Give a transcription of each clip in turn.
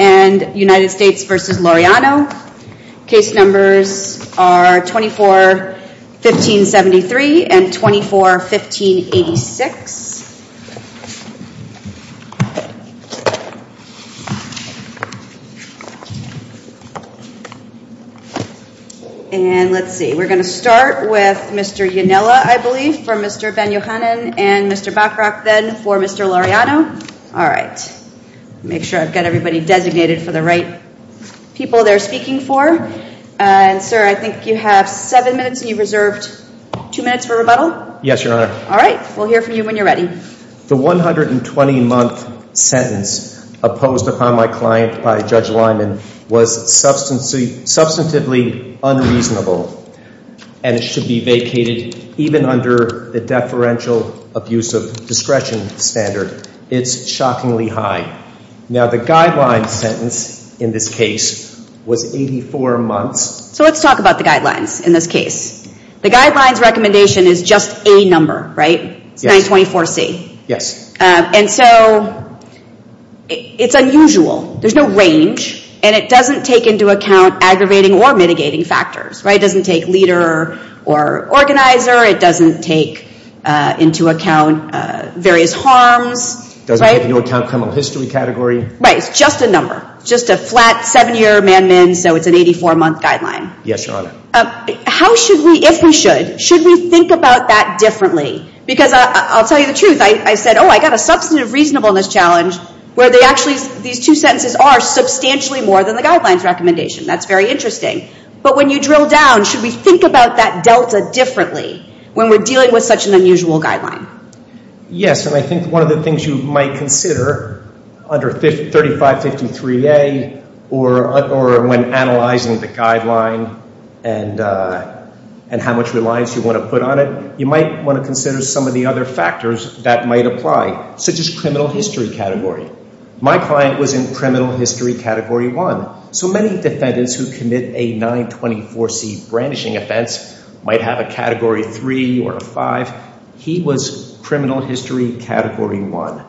and United States v. Laureano. Case numbers are 24-1573 and 24-1586. And let's see, we're going to start with Mr. Yonella, I believe, for Mr. Ben-Yohanan and Mr. Bachrach then for Mr. Laureano. All right. Make sure I've got everybody designated for the right people they're speaking for. And sir, I think you have seven minutes and you reserved two minutes for rebuttal? Yes, Your Honor. All right. We'll hear from you when you're ready. The 120-month sentence opposed upon my client by Judge Lyman was substantively unreasonable and it should be vacated even under the deferential abuse of discretion standard. It's shockingly high. Now, the guidelines sentence in this case was 84 months. So let's talk about the guidelines in this case. The guidelines recommendation is just a number, right? It's 924C. Yes. And so it's unusual. There's no range and it doesn't take into account aggravating or mitigating factors, right? It doesn't take leader or organizer. It doesn't take into account various harms, right? It doesn't take into account criminal history category. Right. It's just a number, just a flat seven-year man-min. So it's an 84-month guideline. Yes, Your Honor. How should we, if we should, should we think about that differently? Because I'll tell you the truth. I said, oh, I got a substantive reasonableness challenge where they actually, these two sentences are substantially more than the guidelines recommendation. That's very interesting. But when you drill down, should we think about that delta differently when we're dealing with such an unusual guideline? Yes. And I think one of the things you might consider under 3553A or when analyzing the guideline and how much reliance you want to put on it, you might want to consider some of the other factors that might apply, such as criminal history category. My client was in criminal history category 1. So many defendants who commit a 924C brandishing offense might have a category 3 or a 5. He was criminal history category 1.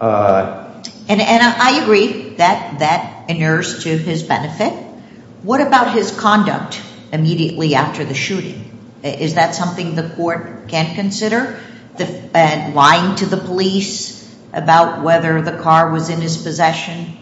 And I agree that that inures to his benefit. What about his conduct immediately after the shooting? Is that something the court can consider? Lying to the police about whether the car was in his possession?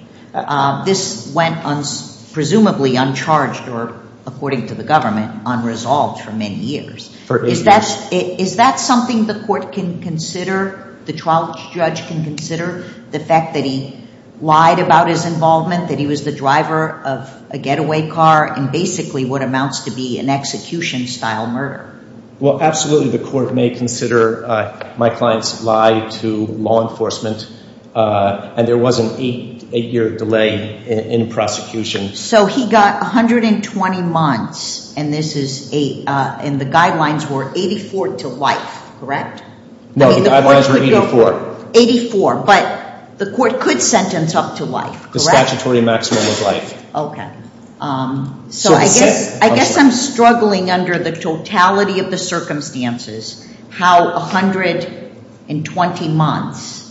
This went on, presumably, uncharged or, according to the government, unresolved for many years. Is that something the court can consider, the trial judge can consider, the fact that he lied about his involvement, that he was the driver of a getaway car in basically what amounts to be an execution-style murder? Well, absolutely the court may consider my client's lie to law enforcement. And there was an 8-year delay in prosecution. So he got 120 months, and this is a, and the guidelines were 84 to life, correct? No, the guidelines were 84. 84. But the court could sentence up to life, correct? The statutory maximum was life. Okay. So I guess I'm struggling under the totality of the circumstances, how 120 months,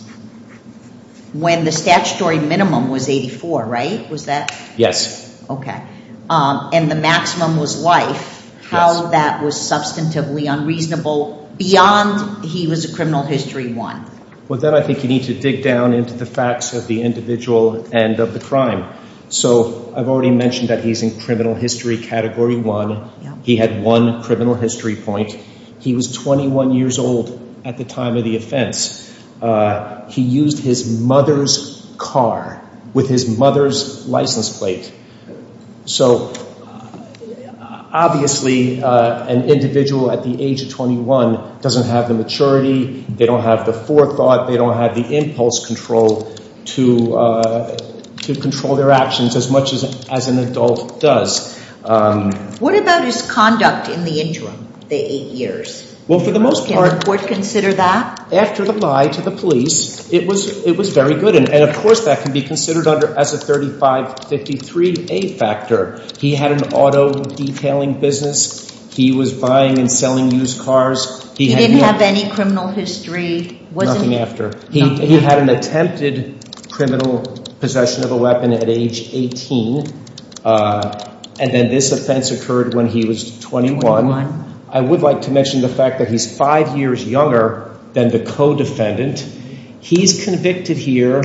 when the statutory minimum was 84, right? Was that? Yes. Okay. And the maximum was life, how that was substantively unreasonable beyond he was a criminal history 1? Well, that I think you need to dig down into the facts of the individual and of the crime. So I've already mentioned that he's in criminal history category 1. He had one criminal history point. He was 21 years old at the time of the offense. He used his mother's car with his mother's license plate. So obviously, an individual at the age of 21 doesn't have the maturity, they don't have the forethought, they don't have the impulse control to control their actions as much as an adult does. What about his conduct in the interim, the 8 years? Well, for the most part... Can the court consider that? After the lie to the police, it was very good. And of course, that can be considered as a 3553A factor. He had an auto detailing business. He was buying and selling used cars. He didn't have any criminal history. He had an attempted criminal possession of a weapon at age 18. And then this offense occurred when he was 21. I would like to mention the fact that he's 5 years younger than the co-defendant. He's convicted here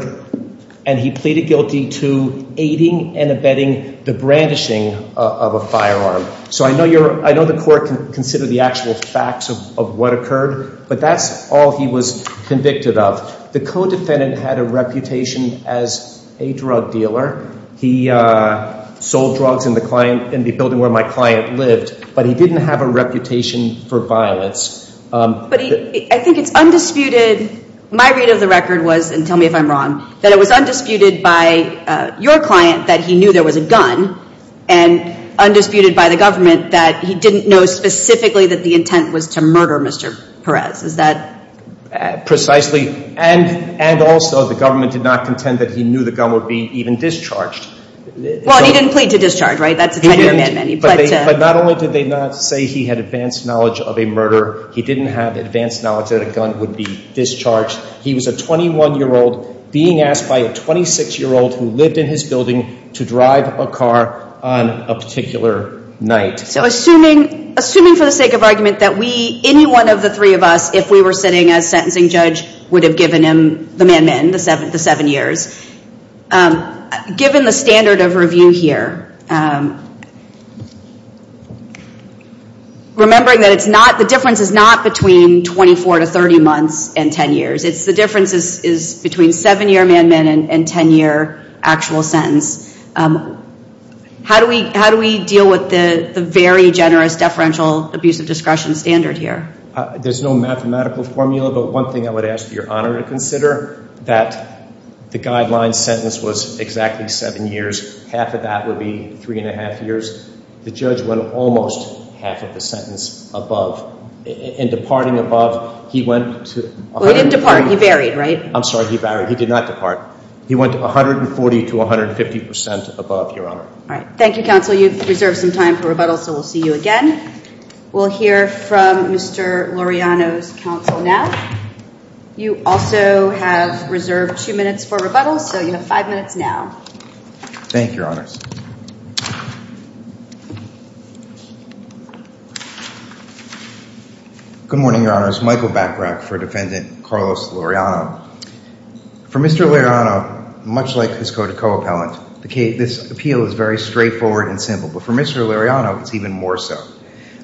and he pleaded guilty to aiding and abetting the brandishing of a firearm. So I know the court can consider the actual facts of what occurred, but that's all he was convicted of. The co-defendant had a reputation as a drug dealer. He sold drugs in the building where my client lived, but he didn't have a reputation for violence. But I think it's undisputed. My read of the record was, and tell me if I'm wrong, that it was undisputed by your client that he knew there was a gun and undisputed by the murder, Mr. Perez. Is that? Precisely. And also the government did not contend that he knew the gun would be even discharged. Well, he didn't plead to discharge, right? But not only did they not say he had advanced knowledge of a murder, he didn't have advanced knowledge that a gun would be discharged. He was a 21-year-old being asked by a 26-year-old who lived in his building to drive a car on a particular night. So assuming for the sake of argument that any one of the three of us, if we were sitting as sentencing judge, would have given him the man-man, the seven years, given the standard of review here, remembering that it's not, the difference is not between 24 to 30 months and 10 years. It's the difference is between seven-year man-man and 10-year actual sentence. How do we deal with the very generous deferential abuse of discretion standard here? There's no mathematical formula, but one thing I would ask for your honor to consider, that the guideline sentence was exactly seven years. Half of that would be three and a half years. The judge went almost half of the sentence above. In departing above, he went to... He didn't depart, he varied, right? I'm sorry, he varied. He did not depart. He went 140 to 150 percent above, your honor. All right. Thank you, counsel. You've reserved some time for rebuttal, so we'll see you again. We'll hear from Mr. Laureano's counsel now. You also have reserved two minutes for rebuttal, so you have five minutes now. Thank you, your honors. Good morning, your honors. Michael Bachrach for defendant Carlos Laureano. For Mr. Laureano, much like his code of co-appellant, this appeal is very straightforward and simple. But for Mr. Laureano, it's even more so.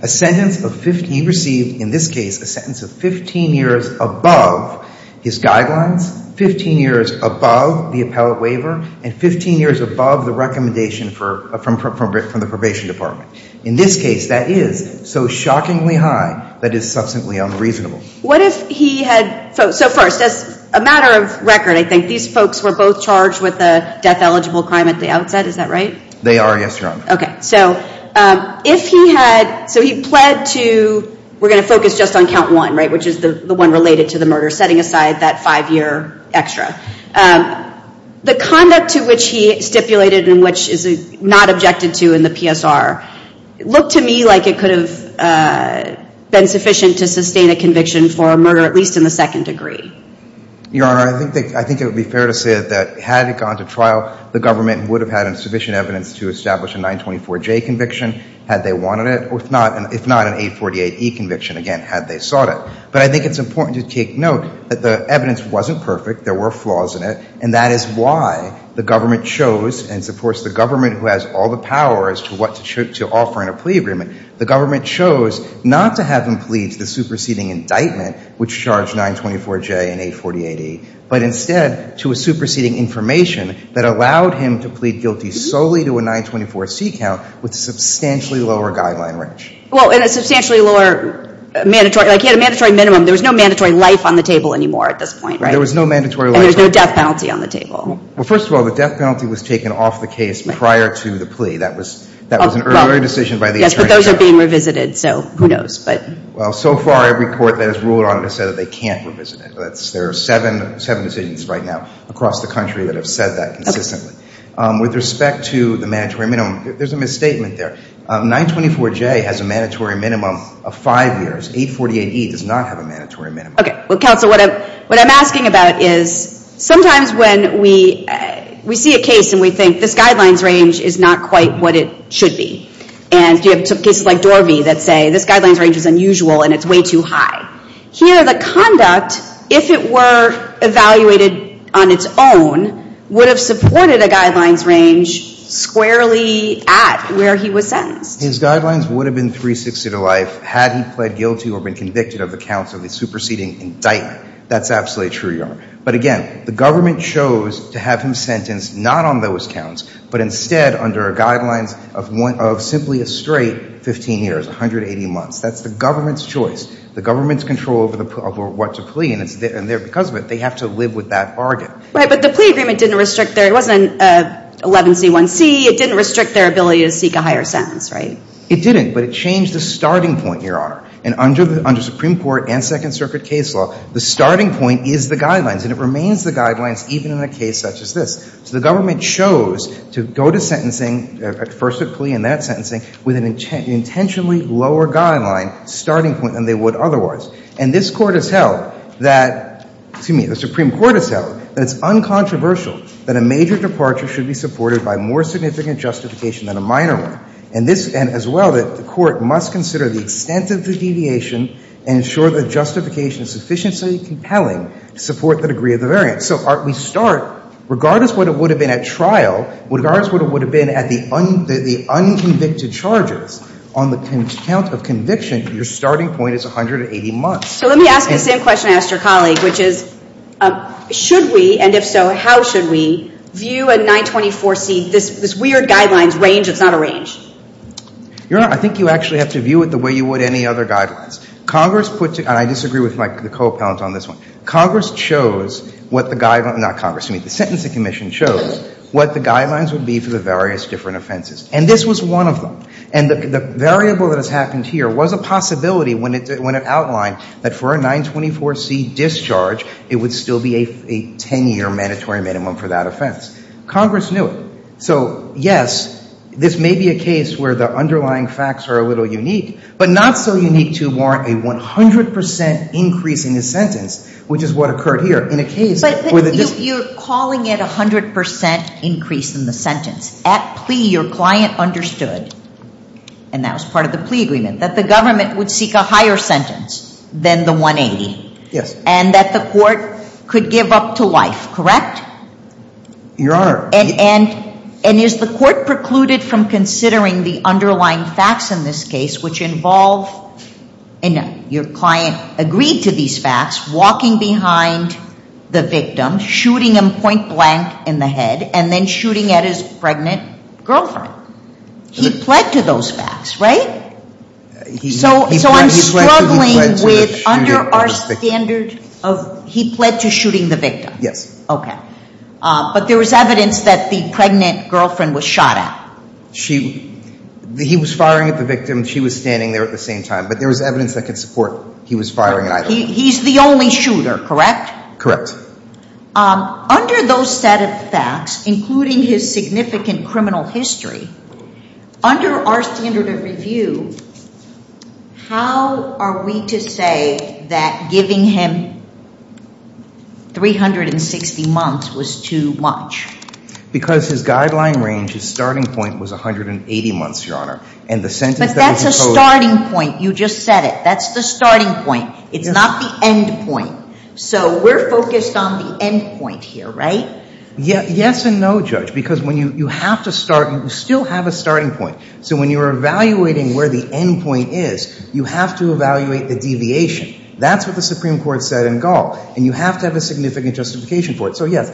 A sentence of 15... He received, in this case, a sentence of 15 years above his guidelines, 15 years above the appellate waiver, and 15 years above the recommendation from the probation department. In this case, that is so shockingly high that it's substantially unreasonable. What if he had... So first, as a matter of record, I think, these folks were both charged with a death-eligible crime at the outset, is that right? They are, yes, your honor. Okay. So if he had... So he pled to... We're going to focus just on count one, right, which is the one related to the murder, setting aside that five-year extra. The conduct to which he stipulated, and which is not objected to in the PSR, looked to me like it could have been sufficient to sustain a conviction for a murder, at least in the second degree. Your honor, I think it would be fair to say that had it gone to trial, the government would have had sufficient evidence to establish a 924J conviction, had they wanted it, if not an 848E conviction, again, had they sought it. But I think it's important to take note that the evidence wasn't perfect, there were flaws in it, and that is why the government chose, and it's of course the government who has all the power as to what to offer in a plea agreement, the government chose not to have him plead to the superseding indictment, which charged 924J and 848E, but instead to a superseding information that allowed him to plead guilty solely to a 924C count with a substantially lower guideline range. Well, and a substantially lower mandatory, like he had a mandatory minimum, there was no mandatory life on the table anymore at this point, right? There was no mandatory life. And there's no death penalty on the table. Well, first of all, the death penalty was taken off the case prior to the plea, that was an earlier decision by the attorney general. Yes, but those are being revisited, so who knows, but. Well, so far, every court that has ruled on it has said that they can't revisit it. There are seven decisions right now across the country that have said that consistently. With respect to the mandatory minimum, there's a misstatement there. 924J has a mandatory minimum of five years. 848E does not have a mandatory minimum. Okay. Well, counsel, what I'm asking about is sometimes when we see a case and we think this guidelines range is not quite what it should be, and you have cases like Dorby that say this guidelines range is unusual and it's way too high. Here, the conduct, if it were evaluated on its own, would have supported a guidelines range squarely at where he was sentenced. His guidelines would have been 360 to life had he pled guilty or been convicted of the counts of the superseding indictment. That's absolutely true, Your Honor. But again, the government chose to have him sentenced not on those counts, but instead under guidelines of simply a straight 15 years, 180 months. That's the government's choice. The government's control over what to plea, and because of it, they have to live with that bargain. Right, but the plea agreement didn't restrict there. It wasn't 11C1C. It didn't restrict their ability to seek a higher sentence, right? It didn't, but it changed the starting point, Your Honor. And under Supreme Court and Second Circuit case law, the starting point is the guidelines, and it remains the guidelines even in a case such as this. So the government chose to go to sentencing, first a plea and then sentencing, with an intentionally lower guideline starting point than they would otherwise. And this Court has held that, excuse me, the Supreme Court has held that it's uncontroversial that a major departure should be supported by more significant justification than a minor one. And this, and as well, that the Court must consider the extent of the deviation and ensure that justification is sufficiently compelling to support the degree of the variance. So we start, regardless of what it would have been at trial, regardless of what it would have been at the unconvicted charges, on the count of conviction, your starting point is 180 months. So let me ask the same question I asked your colleague, which is, should we, and if so, how should we view a 924C, this weird guidelines range that's not a range? Your Honor, I think you actually have to view it the way you would any other guidelines. Congress put, and I disagree with my co-appellant on this one, Congress chose what the guidelines, not Congress, excuse me, the Sentencing Commission chose what the guidelines would be for the various different offenses. And this was one of them. And the variable that has happened here was a possibility when it outlined that for a 924C discharge, it would still be a 10-year mandatory minimum for that offense. Congress knew it. So, yes, this may be a case where the underlying facts are a little unique, but not so unique to warrant a 100 percent increase in the sentence, which is what occurred here. In a case where the dis- You're calling it a 100 percent increase in the sentence. At plea, your client understood, and that was part of the plea agreement, that the government would seek a higher sentence than the 180. Yes. And that the court could give up to life, correct? Your Honor- And is the court precluded from considering the underlying facts in this case, which involve, and your client agreed to these facts, walking behind the victim, shooting him point blank in the head, and then shooting at his pregnant girlfriend. He pled to those facts, right? So, I'm struggling with- Under our standard of- He pled to shooting the victim? Yes. Okay. But there was evidence that the pregnant girlfriend was shot at. She- He was firing at the victim. She was standing there at the same time. But there was evidence that could support he was firing at either of them. He's the only shooter, correct? Correct. Under those set of facts, including his significant criminal history, under our standard of review, how are we to say that giving him 360 months was too much? Because his guideline range, his starting point was 180 months, your Honor. And the sentence that was imposed- But that's a starting point. You just said it. That's the starting point. It's not the end point. So, we're focused on the end point here, right? Yes and no, Judge. Because when you have to start, you still have a starting point. So, when you're evaluating where the end point is, you have to evaluate the deviation. That's what the Supreme Court said in Gall. And you have to have a significant justification for it. So, yes.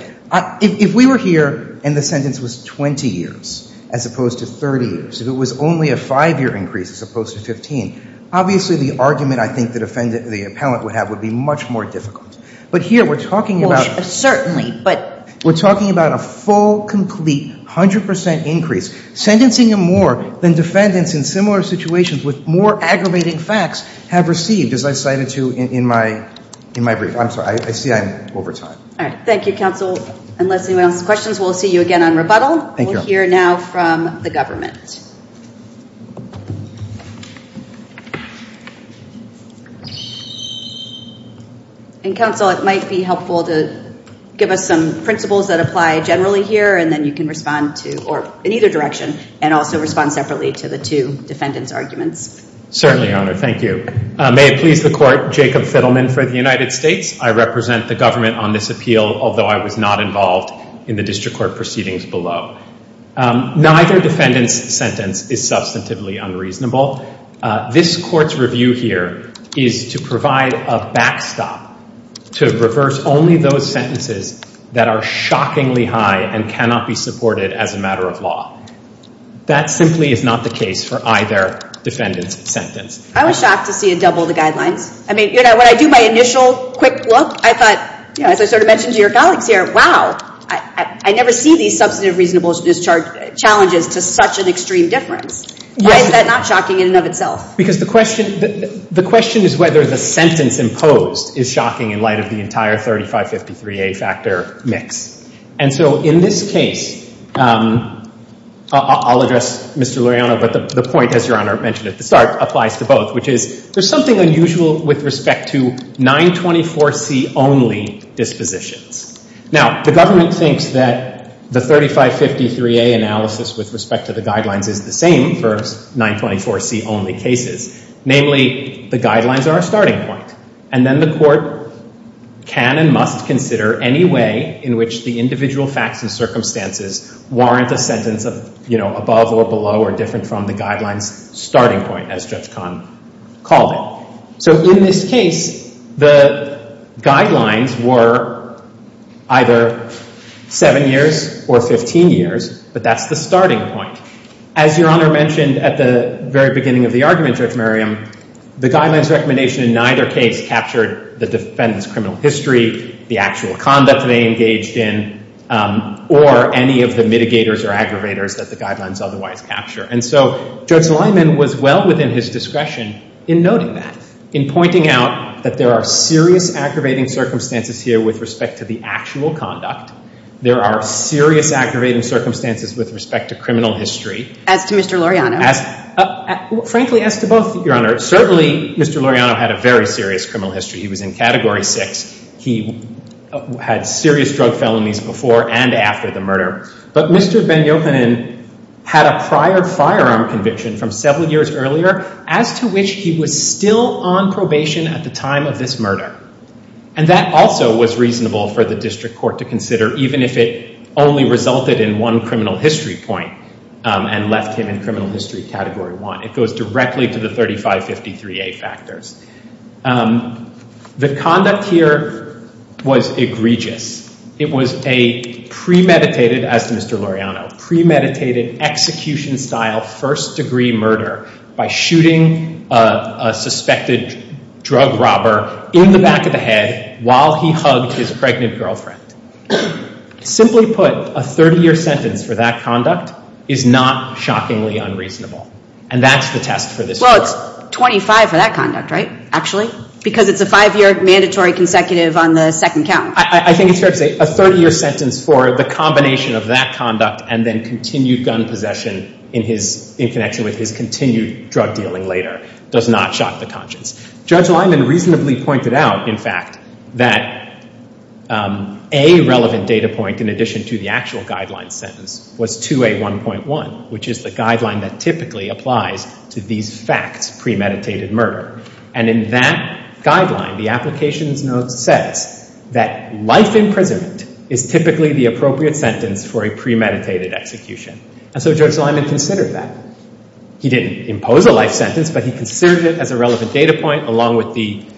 If we were here and the sentence was 20 years as opposed to 30 years, if it was only a five-year increase as opposed to 15, obviously the argument I think the defendant- the appellant would have would be much more difficult. But here, we're talking about- Certainly, but- We're talking about a full, complete, 100% increase. Sentencing him more than defendants in similar situations with more aggravating facts have received, as I cited to you in my brief. I'm sorry. I see I'm over time. All right. Thank you, counsel. Unless anyone else has questions, we'll see you again on rebuttal. Thank you. We'll hear now from the government. And, counsel, it might be helpful to give us some principles that apply generally here, and then you can respond to- or in either direction, and also respond separately to the two defendants' arguments. Certainly, Your Honor. Thank you. May it please the court, Jacob Fiddleman for the United States. I represent the government on this appeal, although I was not involved in the district court proceedings below. Neither defendant's sentence was more than 20 years as opposed to 30 years. is substantively unreasonable. This court's review here is to provide a backstop to reverse only those sentences that are shockingly high and cannot be supported as a matter of law. That simply is not the case for either defendant's sentence. I was shocked to see it double the guidelines. I mean, you know, when I do my initial quick look, I thought, you know, as I sort of mentioned to your colleagues here, wow, I never see these substantive reasonableness challenges to such an extreme difference. Why is that not shocking in and of itself? Because the question is whether the sentence imposed is shocking in light of the entire 3553A factor mix. And so in this case, I'll address Mr. Luriano, but the point, as Your Honor mentioned at the start, applies to both, which is there's something unusual with respect to 924C-only dispositions. Now, the government thinks that the 3553A analysis with respect to the guidelines is the same for 924C-only cases. Namely, the guidelines are a starting point, and then the court can and must consider any way in which the individual facts and circumstances warrant a sentence of, you know, above or below or different from the guidelines' starting point, as Judge Kahn called it. So in this case, the guidelines were either seven years or 15 years, but that's the starting point. As Your Honor mentioned at the very beginning of the argument, Judge Merriam, the guidelines' recommendation in neither case captured the defendant's criminal history, the actual conduct they engaged in, or any of the mitigators or aggravators that the guidelines otherwise capture. And so Judge Lyman was well within his discretion in noting that. In pointing out that there are serious aggravating circumstances here with respect to the actual conduct, there are serious aggravating circumstances with respect to criminal history. As to Mr. Loriano? As—frankly, as to both, Your Honor. Certainly, Mr. Loriano had a very serious criminal history. He was in Category 6. He had serious drug felonies before and after the murder. But Mr. Ben-Yochanan had a prior firearm conviction from several years earlier as to which he was still on probation at the time of this murder. And that also was reasonable for the district court to consider, even if it only resulted in one criminal history point and left him in criminal history Category 1. It goes directly to the 3553A factors. The conduct here was egregious. It was a premeditated, as to Mr. Loriano, premeditated execution-style first-degree murder by shooting a suspected drug robber in the back of the head while he hugged his pregnant girlfriend. Simply put, a 30-year sentence for that conduct is not shockingly unreasonable. And that's the test for this court. Well, it's 25 for that conduct, right, actually? Because it's a five-year mandatory consecutive on the second count. I think it's fair to say a 30-year sentence for the combination of that conduct and then continued gun possession in connection with his continued drug dealing later does not shock the conscience. Judge Lyman reasonably pointed out, in fact, that a relevant data point, in addition to the actual guideline sentence, was 2A1.1, which is the guideline that typically applies to these facts, premeditated murder. And in that guideline, the applications note says that life imprisonment is typically the appropriate sentence for a premeditated execution. And so Judge Lyman considered that. He didn't impose a life sentence, but he considered it as a relevant data point, along with the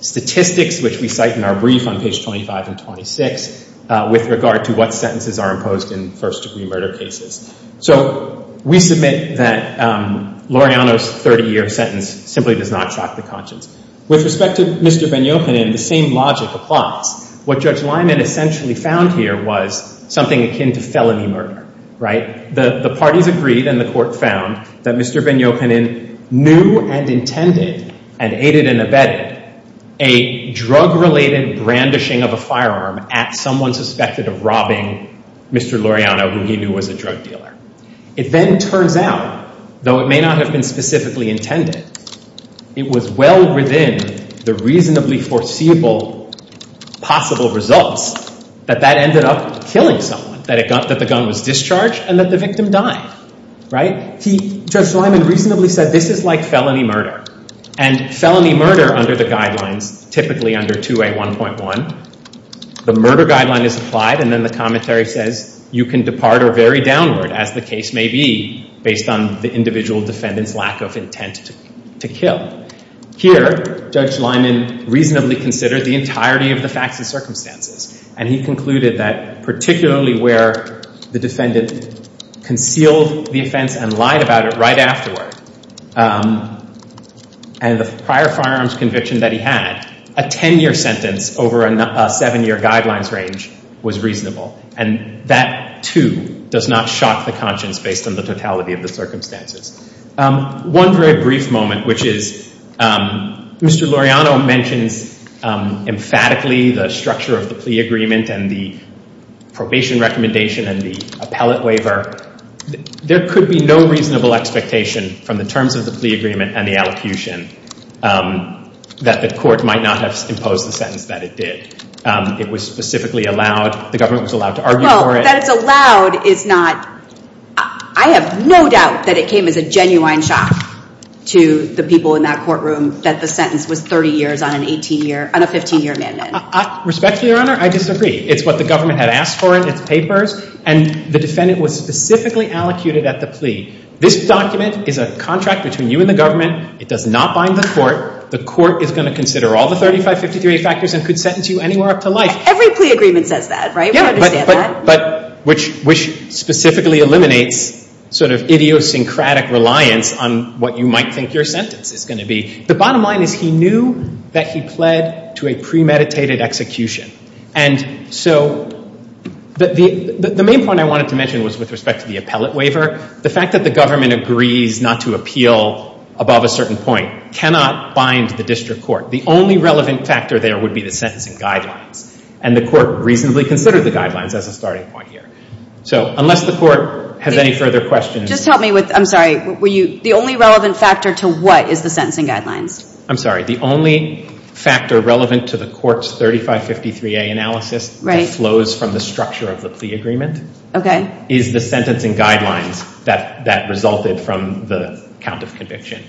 statistics, which we cite in our brief on page 25 and 26, with regard to what sentences are imposed in first-degree murder cases. So we submit that Loriano's 30-year sentence simply does not shock the conscience. With respect to Mr. Vagnopanen, the same logic applies. What Judge Lyman essentially found here was something akin to felony murder, right? The parties agreed, and the court found, that Mr. Vagnopanen knew and intended, and aided and abetted, a drug-related brandishing of a firearm at someone suspected of robbing Mr. Loriano, who he knew was a drug dealer. It then turns out, though it may not have been specifically intended, it was well within the reasonably foreseeable possible results that that ended up killing someone, that the gun was discharged, and that the victim died, right? Judge Lyman reasonably said, this is like felony murder. And felony murder, under the guidelines, typically under 2A1.1, the murder guideline is applied, and then the commentary says, you can depart or vary downward, as the case may be, based on the individual defendant's lack of intent to kill. Here, Judge Lyman reasonably considered the entirety of the facts and circumstances. And he concluded that, particularly where the defendant concealed the offense and lied about it right afterward, and the prior firearms conviction that he had, a 10-year sentence over a 7-year guidelines range was reasonable. And that, too, does not shock the conscience based on the totality of the circumstances. One very brief moment, which is, Mr. Loriano mentions emphatically the structure of the plea agreement and the probation recommendation and the appellate waiver. There could be no reasonable expectation from the terms of the plea agreement and the allocution that the court might not have imposed the sentence that it did. It was specifically allowed. The government was allowed to argue for it. That it's allowed is not—I have no doubt that it came as a genuine shock to the people in that courtroom that the sentence was 30 years on an 18-year—on a 15-year amendment. Respectfully, Your Honor, I disagree. It's what the government had asked for in its papers, and the defendant was specifically allocuted at the plea. This document is a contract between you and the government. It does not bind the court. The court is going to consider all the 35, 53 factors and could sentence you anywhere up to life. Every plea agreement says that, right? Yeah. We understand that. But which specifically eliminates sort of idiosyncratic reliance on what you might think your sentence is going to be. The bottom line is he knew that he pled to a premeditated execution. And so the main point I wanted to mention was with respect to the appellate waiver. The fact that the government agrees not to appeal above a certain point cannot bind the district court. The only relevant factor there would be the sentencing guidelines. And the court reasonably considered the guidelines as a starting point here. So unless the court has any further questions— Just help me with—I'm sorry. The only relevant factor to what is the sentencing guidelines? I'm sorry. The only factor relevant to the court's 35, 53A analysis that flows from the structure of the plea agreement is the sentencing guidelines that resulted from the count of conviction.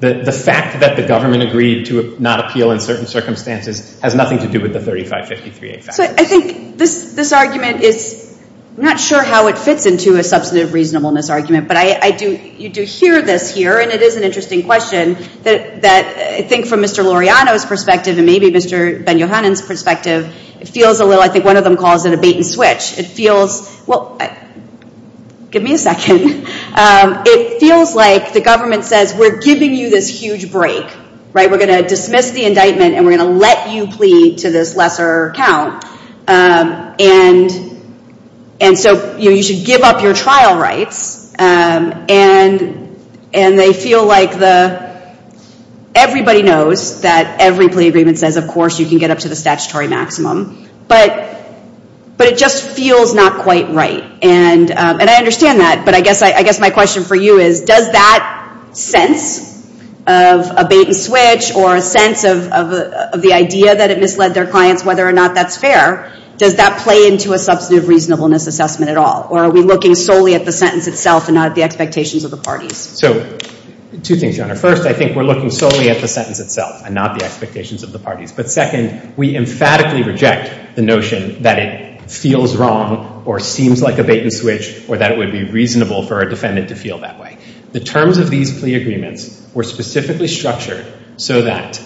The fact that the government agreed to not appeal in certain circumstances has nothing to do with the 35, 53A factors. So I think this argument is—I'm not sure how it fits into a substantive reasonableness argument. But you do hear this here. And it is an interesting question that I think from Mr. Laureano's perspective and maybe Mr. Ben-Yohanan's perspective, it feels a little—I think one of them calls it a bait and switch. Well, give me a second. It feels like the government says, we're giving you this huge break, right? We're going to dismiss the indictment and we're going to let you plead to this lesser count. And so you should give up your trial rights. And they feel like the—everybody knows that every plea agreement says, of course, you can get up to the statutory maximum. But it just feels not quite right. And I understand that. But I guess my question for you is, does that sense of a bait and switch or a sense of the idea that it misled their clients, whether or not that's fair, does that play into a substantive reasonableness assessment at all? Or are we looking solely at the sentence itself and not at the expectations of the parties? So two things, Your Honor. First, I think we're looking solely at the sentence itself and not the expectations of the parties. But second, we emphatically reject the notion that it feels wrong or seems like a bait and switch or that it would be reasonable for a defendant to feel that way. The terms of these plea agreements were specifically structured so that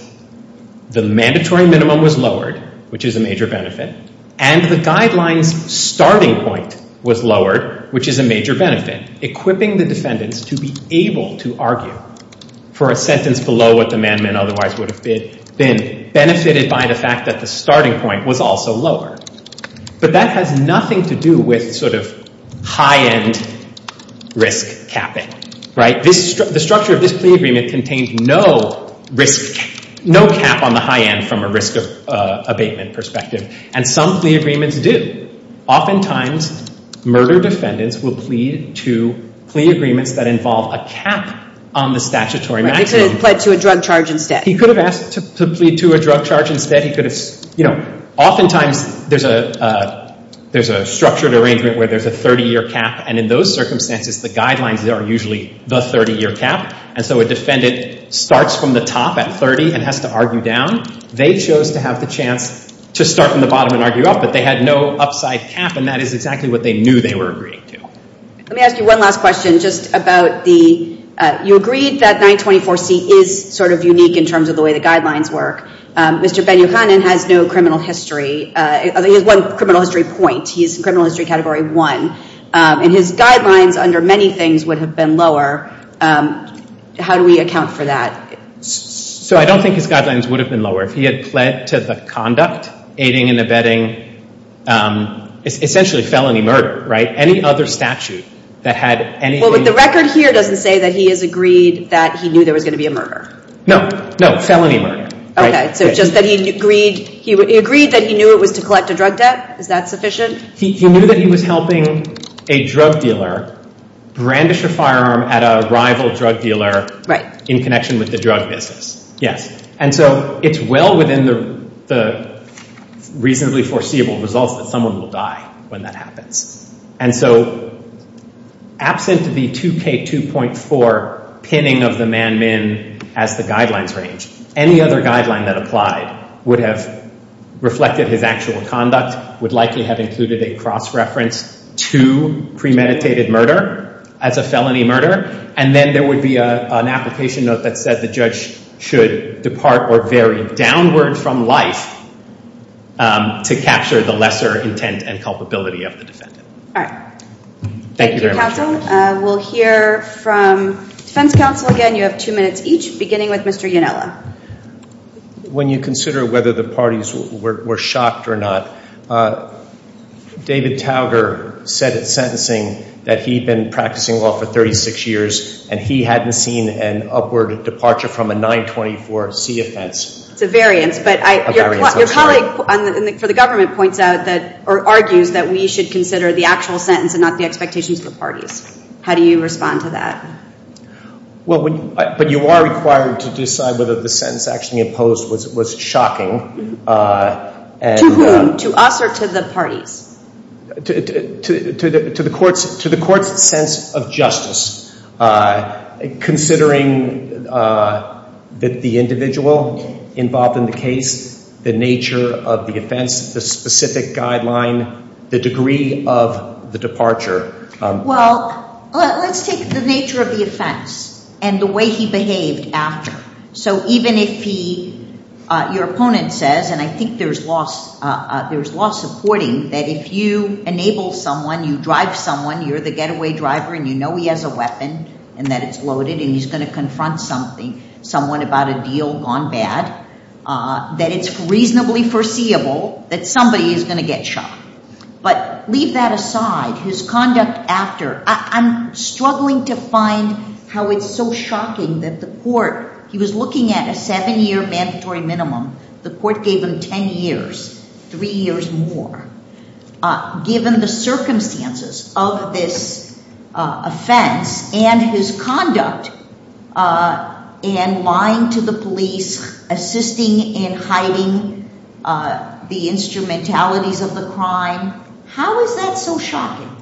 the mandatory minimum was lowered, which is a major benefit, and the guidelines starting point was lowered, which is a major benefit, equipping the defendants to be able to argue for a sentence below what otherwise would have been benefited by the fact that the starting point was also lowered. But that has nothing to do with sort of high-end risk capping, right? The structure of this plea agreement contained no risk, no cap on the high end from a risk of abatement perspective. And some plea agreements do. Oftentimes, murder defendants will plead to plea agreements that involve a cap on the statutory maximum. They could have pled to a drug charge instead. He could have asked to plead to a drug charge instead. He could have, you know, oftentimes there's a structured arrangement where there's a 30-year cap. And in those circumstances, the guidelines are usually the 30-year cap. And so a defendant starts from the top at 30 and has to argue down. They chose to have the chance to start from the bottom and argue up. But they had no upside cap. And that is exactly what they knew they were agreeing to. Let me ask you one last question just about the—you agreed that 924C is sort of unique in terms of the way the guidelines work. Mr. Ben-Yohanan has no criminal history. He has one criminal history point. He's in criminal history category one. And his guidelines under many things would have been lower. How do we account for that? So I don't think his guidelines would have been lower. If he had pled to the conduct, aiding and abetting, essentially felony murder, right? Any other statute that had anything— Well, but the record here doesn't say that he has agreed that he knew there was going to be a murder. No. No. Felony murder. Okay. So just that he agreed that he knew it was to collect a drug debt? Is that sufficient? He knew that he was helping a drug dealer brandish a firearm at a rival drug dealer in connection with the drug business. Yes. And so it's well within the reasonably foreseeable results that someone will die when that happens. And so absent the 2K2.4 pinning of the man-min as the guidelines range, any other guideline that applied would have reflected his actual conduct, would likely have included a cross reference to premeditated murder as a felony murder. And then there would be an application note that said the judge should depart or vary downward from life to capture the lesser intent and culpability of the defendant. All right. Thank you, counsel. We'll hear from defense counsel again. You have two minutes each, beginning with Mr. Ionella. When you consider whether the parties were shocked or not, David Tauger said at sentencing that he'd been practicing law for 36 years and he hadn't seen an upward departure from a 924C offense. It's a variance, but your colleague for the government points out or argues that we should consider the actual sentence and not the expectations of the parties. How do you respond to that? Well, but you are required to decide whether the sentence actually imposed was shocking. To whom? To us or to the parties? To the court's sense of justice. Considering that the individual involved in the case, the nature of the offense, the specific guideline, the degree of the departure. Well, let's take the nature of the offense and the way he behaved after. So even if your opponent says, and I think there's law supporting that if you enable someone, you drive someone, you're the getaway driver and you know he has a weapon and that it's loaded and he's going to confront someone about a deal gone bad, that it's reasonably foreseeable that somebody is going to get shot. But leave that aside, his conduct after. I'm struggling to find how it's so shocking that the court, he was looking at a seven year mandatory minimum. The court gave him 10 years, three years more. Given the circumstances of this offense and his conduct and lying to the police, assisting in hiding the instrumentalities of the crime, how is that so shocking?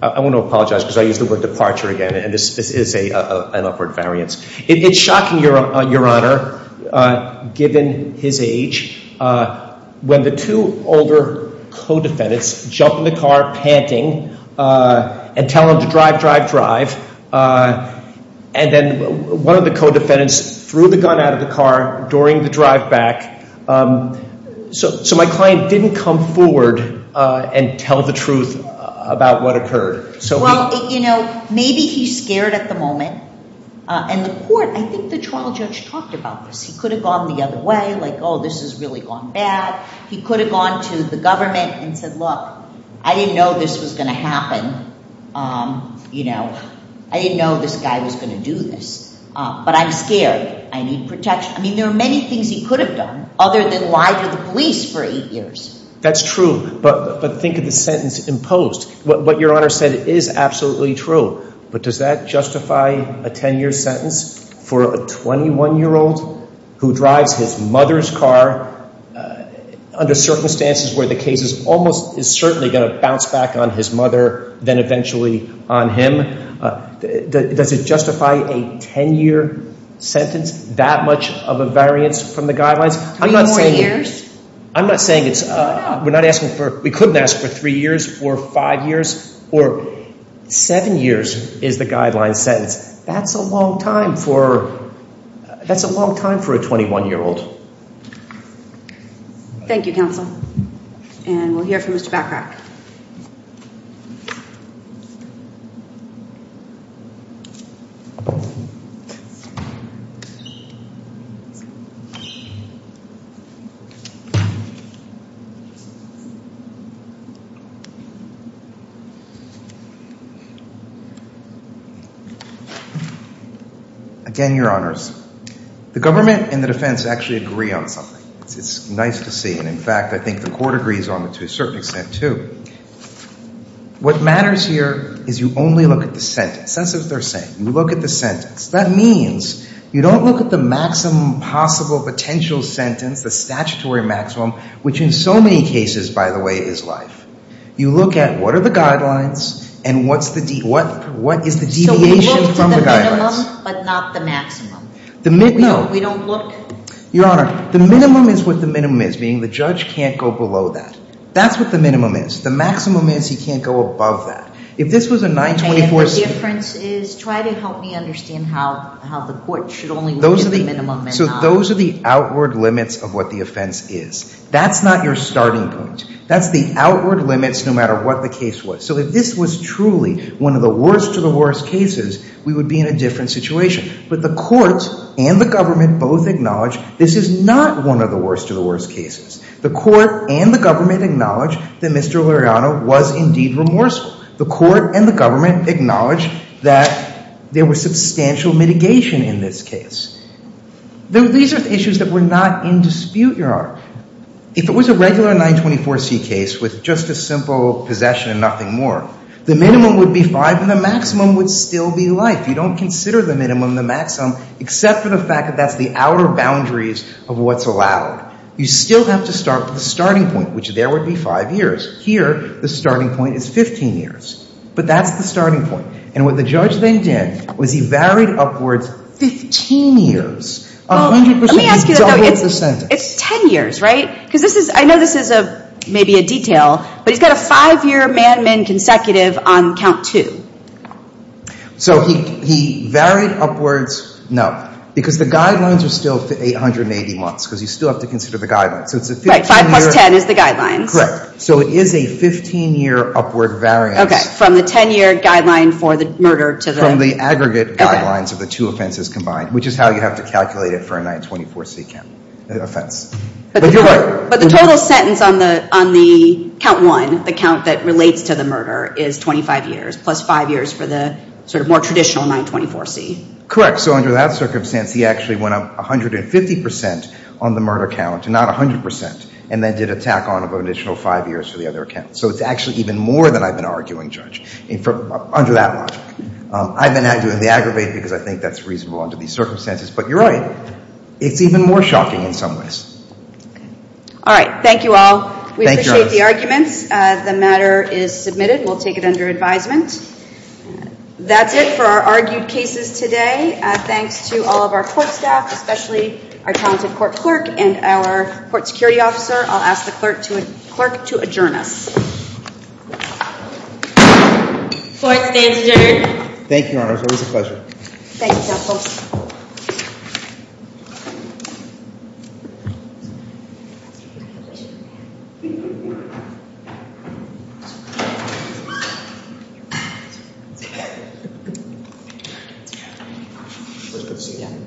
I want to apologize because I used the word departure again and this is an upward variance. It's shocking, Your Honor, given his age. When the two older co-defendants jump in the car panting and tell him to drive, drive, drive, and then one of the co-defendants threw the gun out of the car during the drive back. So my client didn't come forward and tell the truth about what occurred. Well, you know, maybe he's scared at the moment. And the court, I think the trial judge talked about this. He could have gone the other way like, oh, this has really gone bad. He could have gone to the government and said, look, I didn't know this was going to happen. Um, you know, I didn't know this guy was going to do this. But I'm scared. I need protection. I mean, there are many things he could have done other than lie to the police for eight years. That's true. But think of the sentence imposed. What Your Honor said is absolutely true. But does that justify a 10-year sentence for a 21-year-old who drives his mother's car under circumstances where the case is almost is certainly going to bounce back on his mother than eventually on him? Does it justify a 10-year sentence? That much of a variance from the guidelines? Three more years? I'm not saying it's, we're not asking for, we couldn't ask for three years or five years or seven years is the guideline sentence. That's a long time for, that's a long time for a 21-year-old. Thank you, counsel. And we'll hear from Mr. Backrack. Again, Your Honors, the government and the defense actually agree on something. It's nice to see. And in fact, I think the court agrees on it to a certain extent too. What matters here is you only look at the sentence. That's what they're saying. You look at the sentence. That means you don't look at the maximum possible potential sentence, the statutory maximum, which in so many cases, by the way, is life. You look at what are the guidelines and what's the, what is the deviation from the guidelines? So we look to the minimum but not the maximum? No. We don't look? Your Honor, the minimum is what the minimum is, meaning the judge can't go below that. That's what the minimum is. The maximum is he can't go above that. If this was a 924- And the difference is, try to help me understand how the court should only look at the minimum. So those are the outward limits of what the offense is. That's not your starting point. That's the outward limits, no matter what the case was. So if this was truly one of the worst of the worst cases, we would be in a different situation. But the court and the government both acknowledge this is not one of the worst of the worst cases. The court and the government acknowledge that Mr. Luriano was indeed remorseful. The court and the government acknowledge that there was substantial mitigation in this case. These are issues that were not in dispute, Your Honor. If it was a regular 924-C case with just a simple possession and nothing more, the minimum would be five and the maximum would still be life. You don't consider the minimum the maximum, except for the fact that that's the outer boundaries of what's allowed. You still have to start with the starting point, which there would be five years. Here, the starting point is 15 years. But that's the starting point. And what the judge then did was he varied upwards 15 years. Well, let me ask you, though, it's 10 years, right? Because this is, I know this is maybe a detail, but he's got a five-year man-to-man consecutive on count two. So he varied upwards, no, because the guidelines are still for 880 months, because you still have to consider the guidelines. Right, 5 plus 10 is the guidelines. Correct. So it is a 15-year upward variance. Okay, from the 10-year guideline for the murder to the... From the aggregate guidelines of the two offenses combined, which is how you have to calculate it for a 924-C offense. But the total sentence on the count one, the count that relates to the murder, is 25 years, plus five years for the sort of more traditional 924-C. Correct. So under that circumstance, he actually went up 150% on the murder count, not 100%, and then did a tack-on of an additional five years for the other account. So it's actually even more than I've been arguing, Judge, under that logic. I've been arguing the aggravate because I think that's reasonable under these circumstances. But you're right, it's even more shocking in some ways. All right, thank you all. We appreciate the arguments. The matter is submitted. We'll take it under advisement. That's it for our argued cases today. Thanks to all of our court staff, especially our talented court clerk and our court security officer. I'll ask the clerk to adjourn us. Court stands adjourned. Thank you, Your Honor. It was a pleasure. Thank you, Counsel. It was good to see you, Your Honor. Thank you.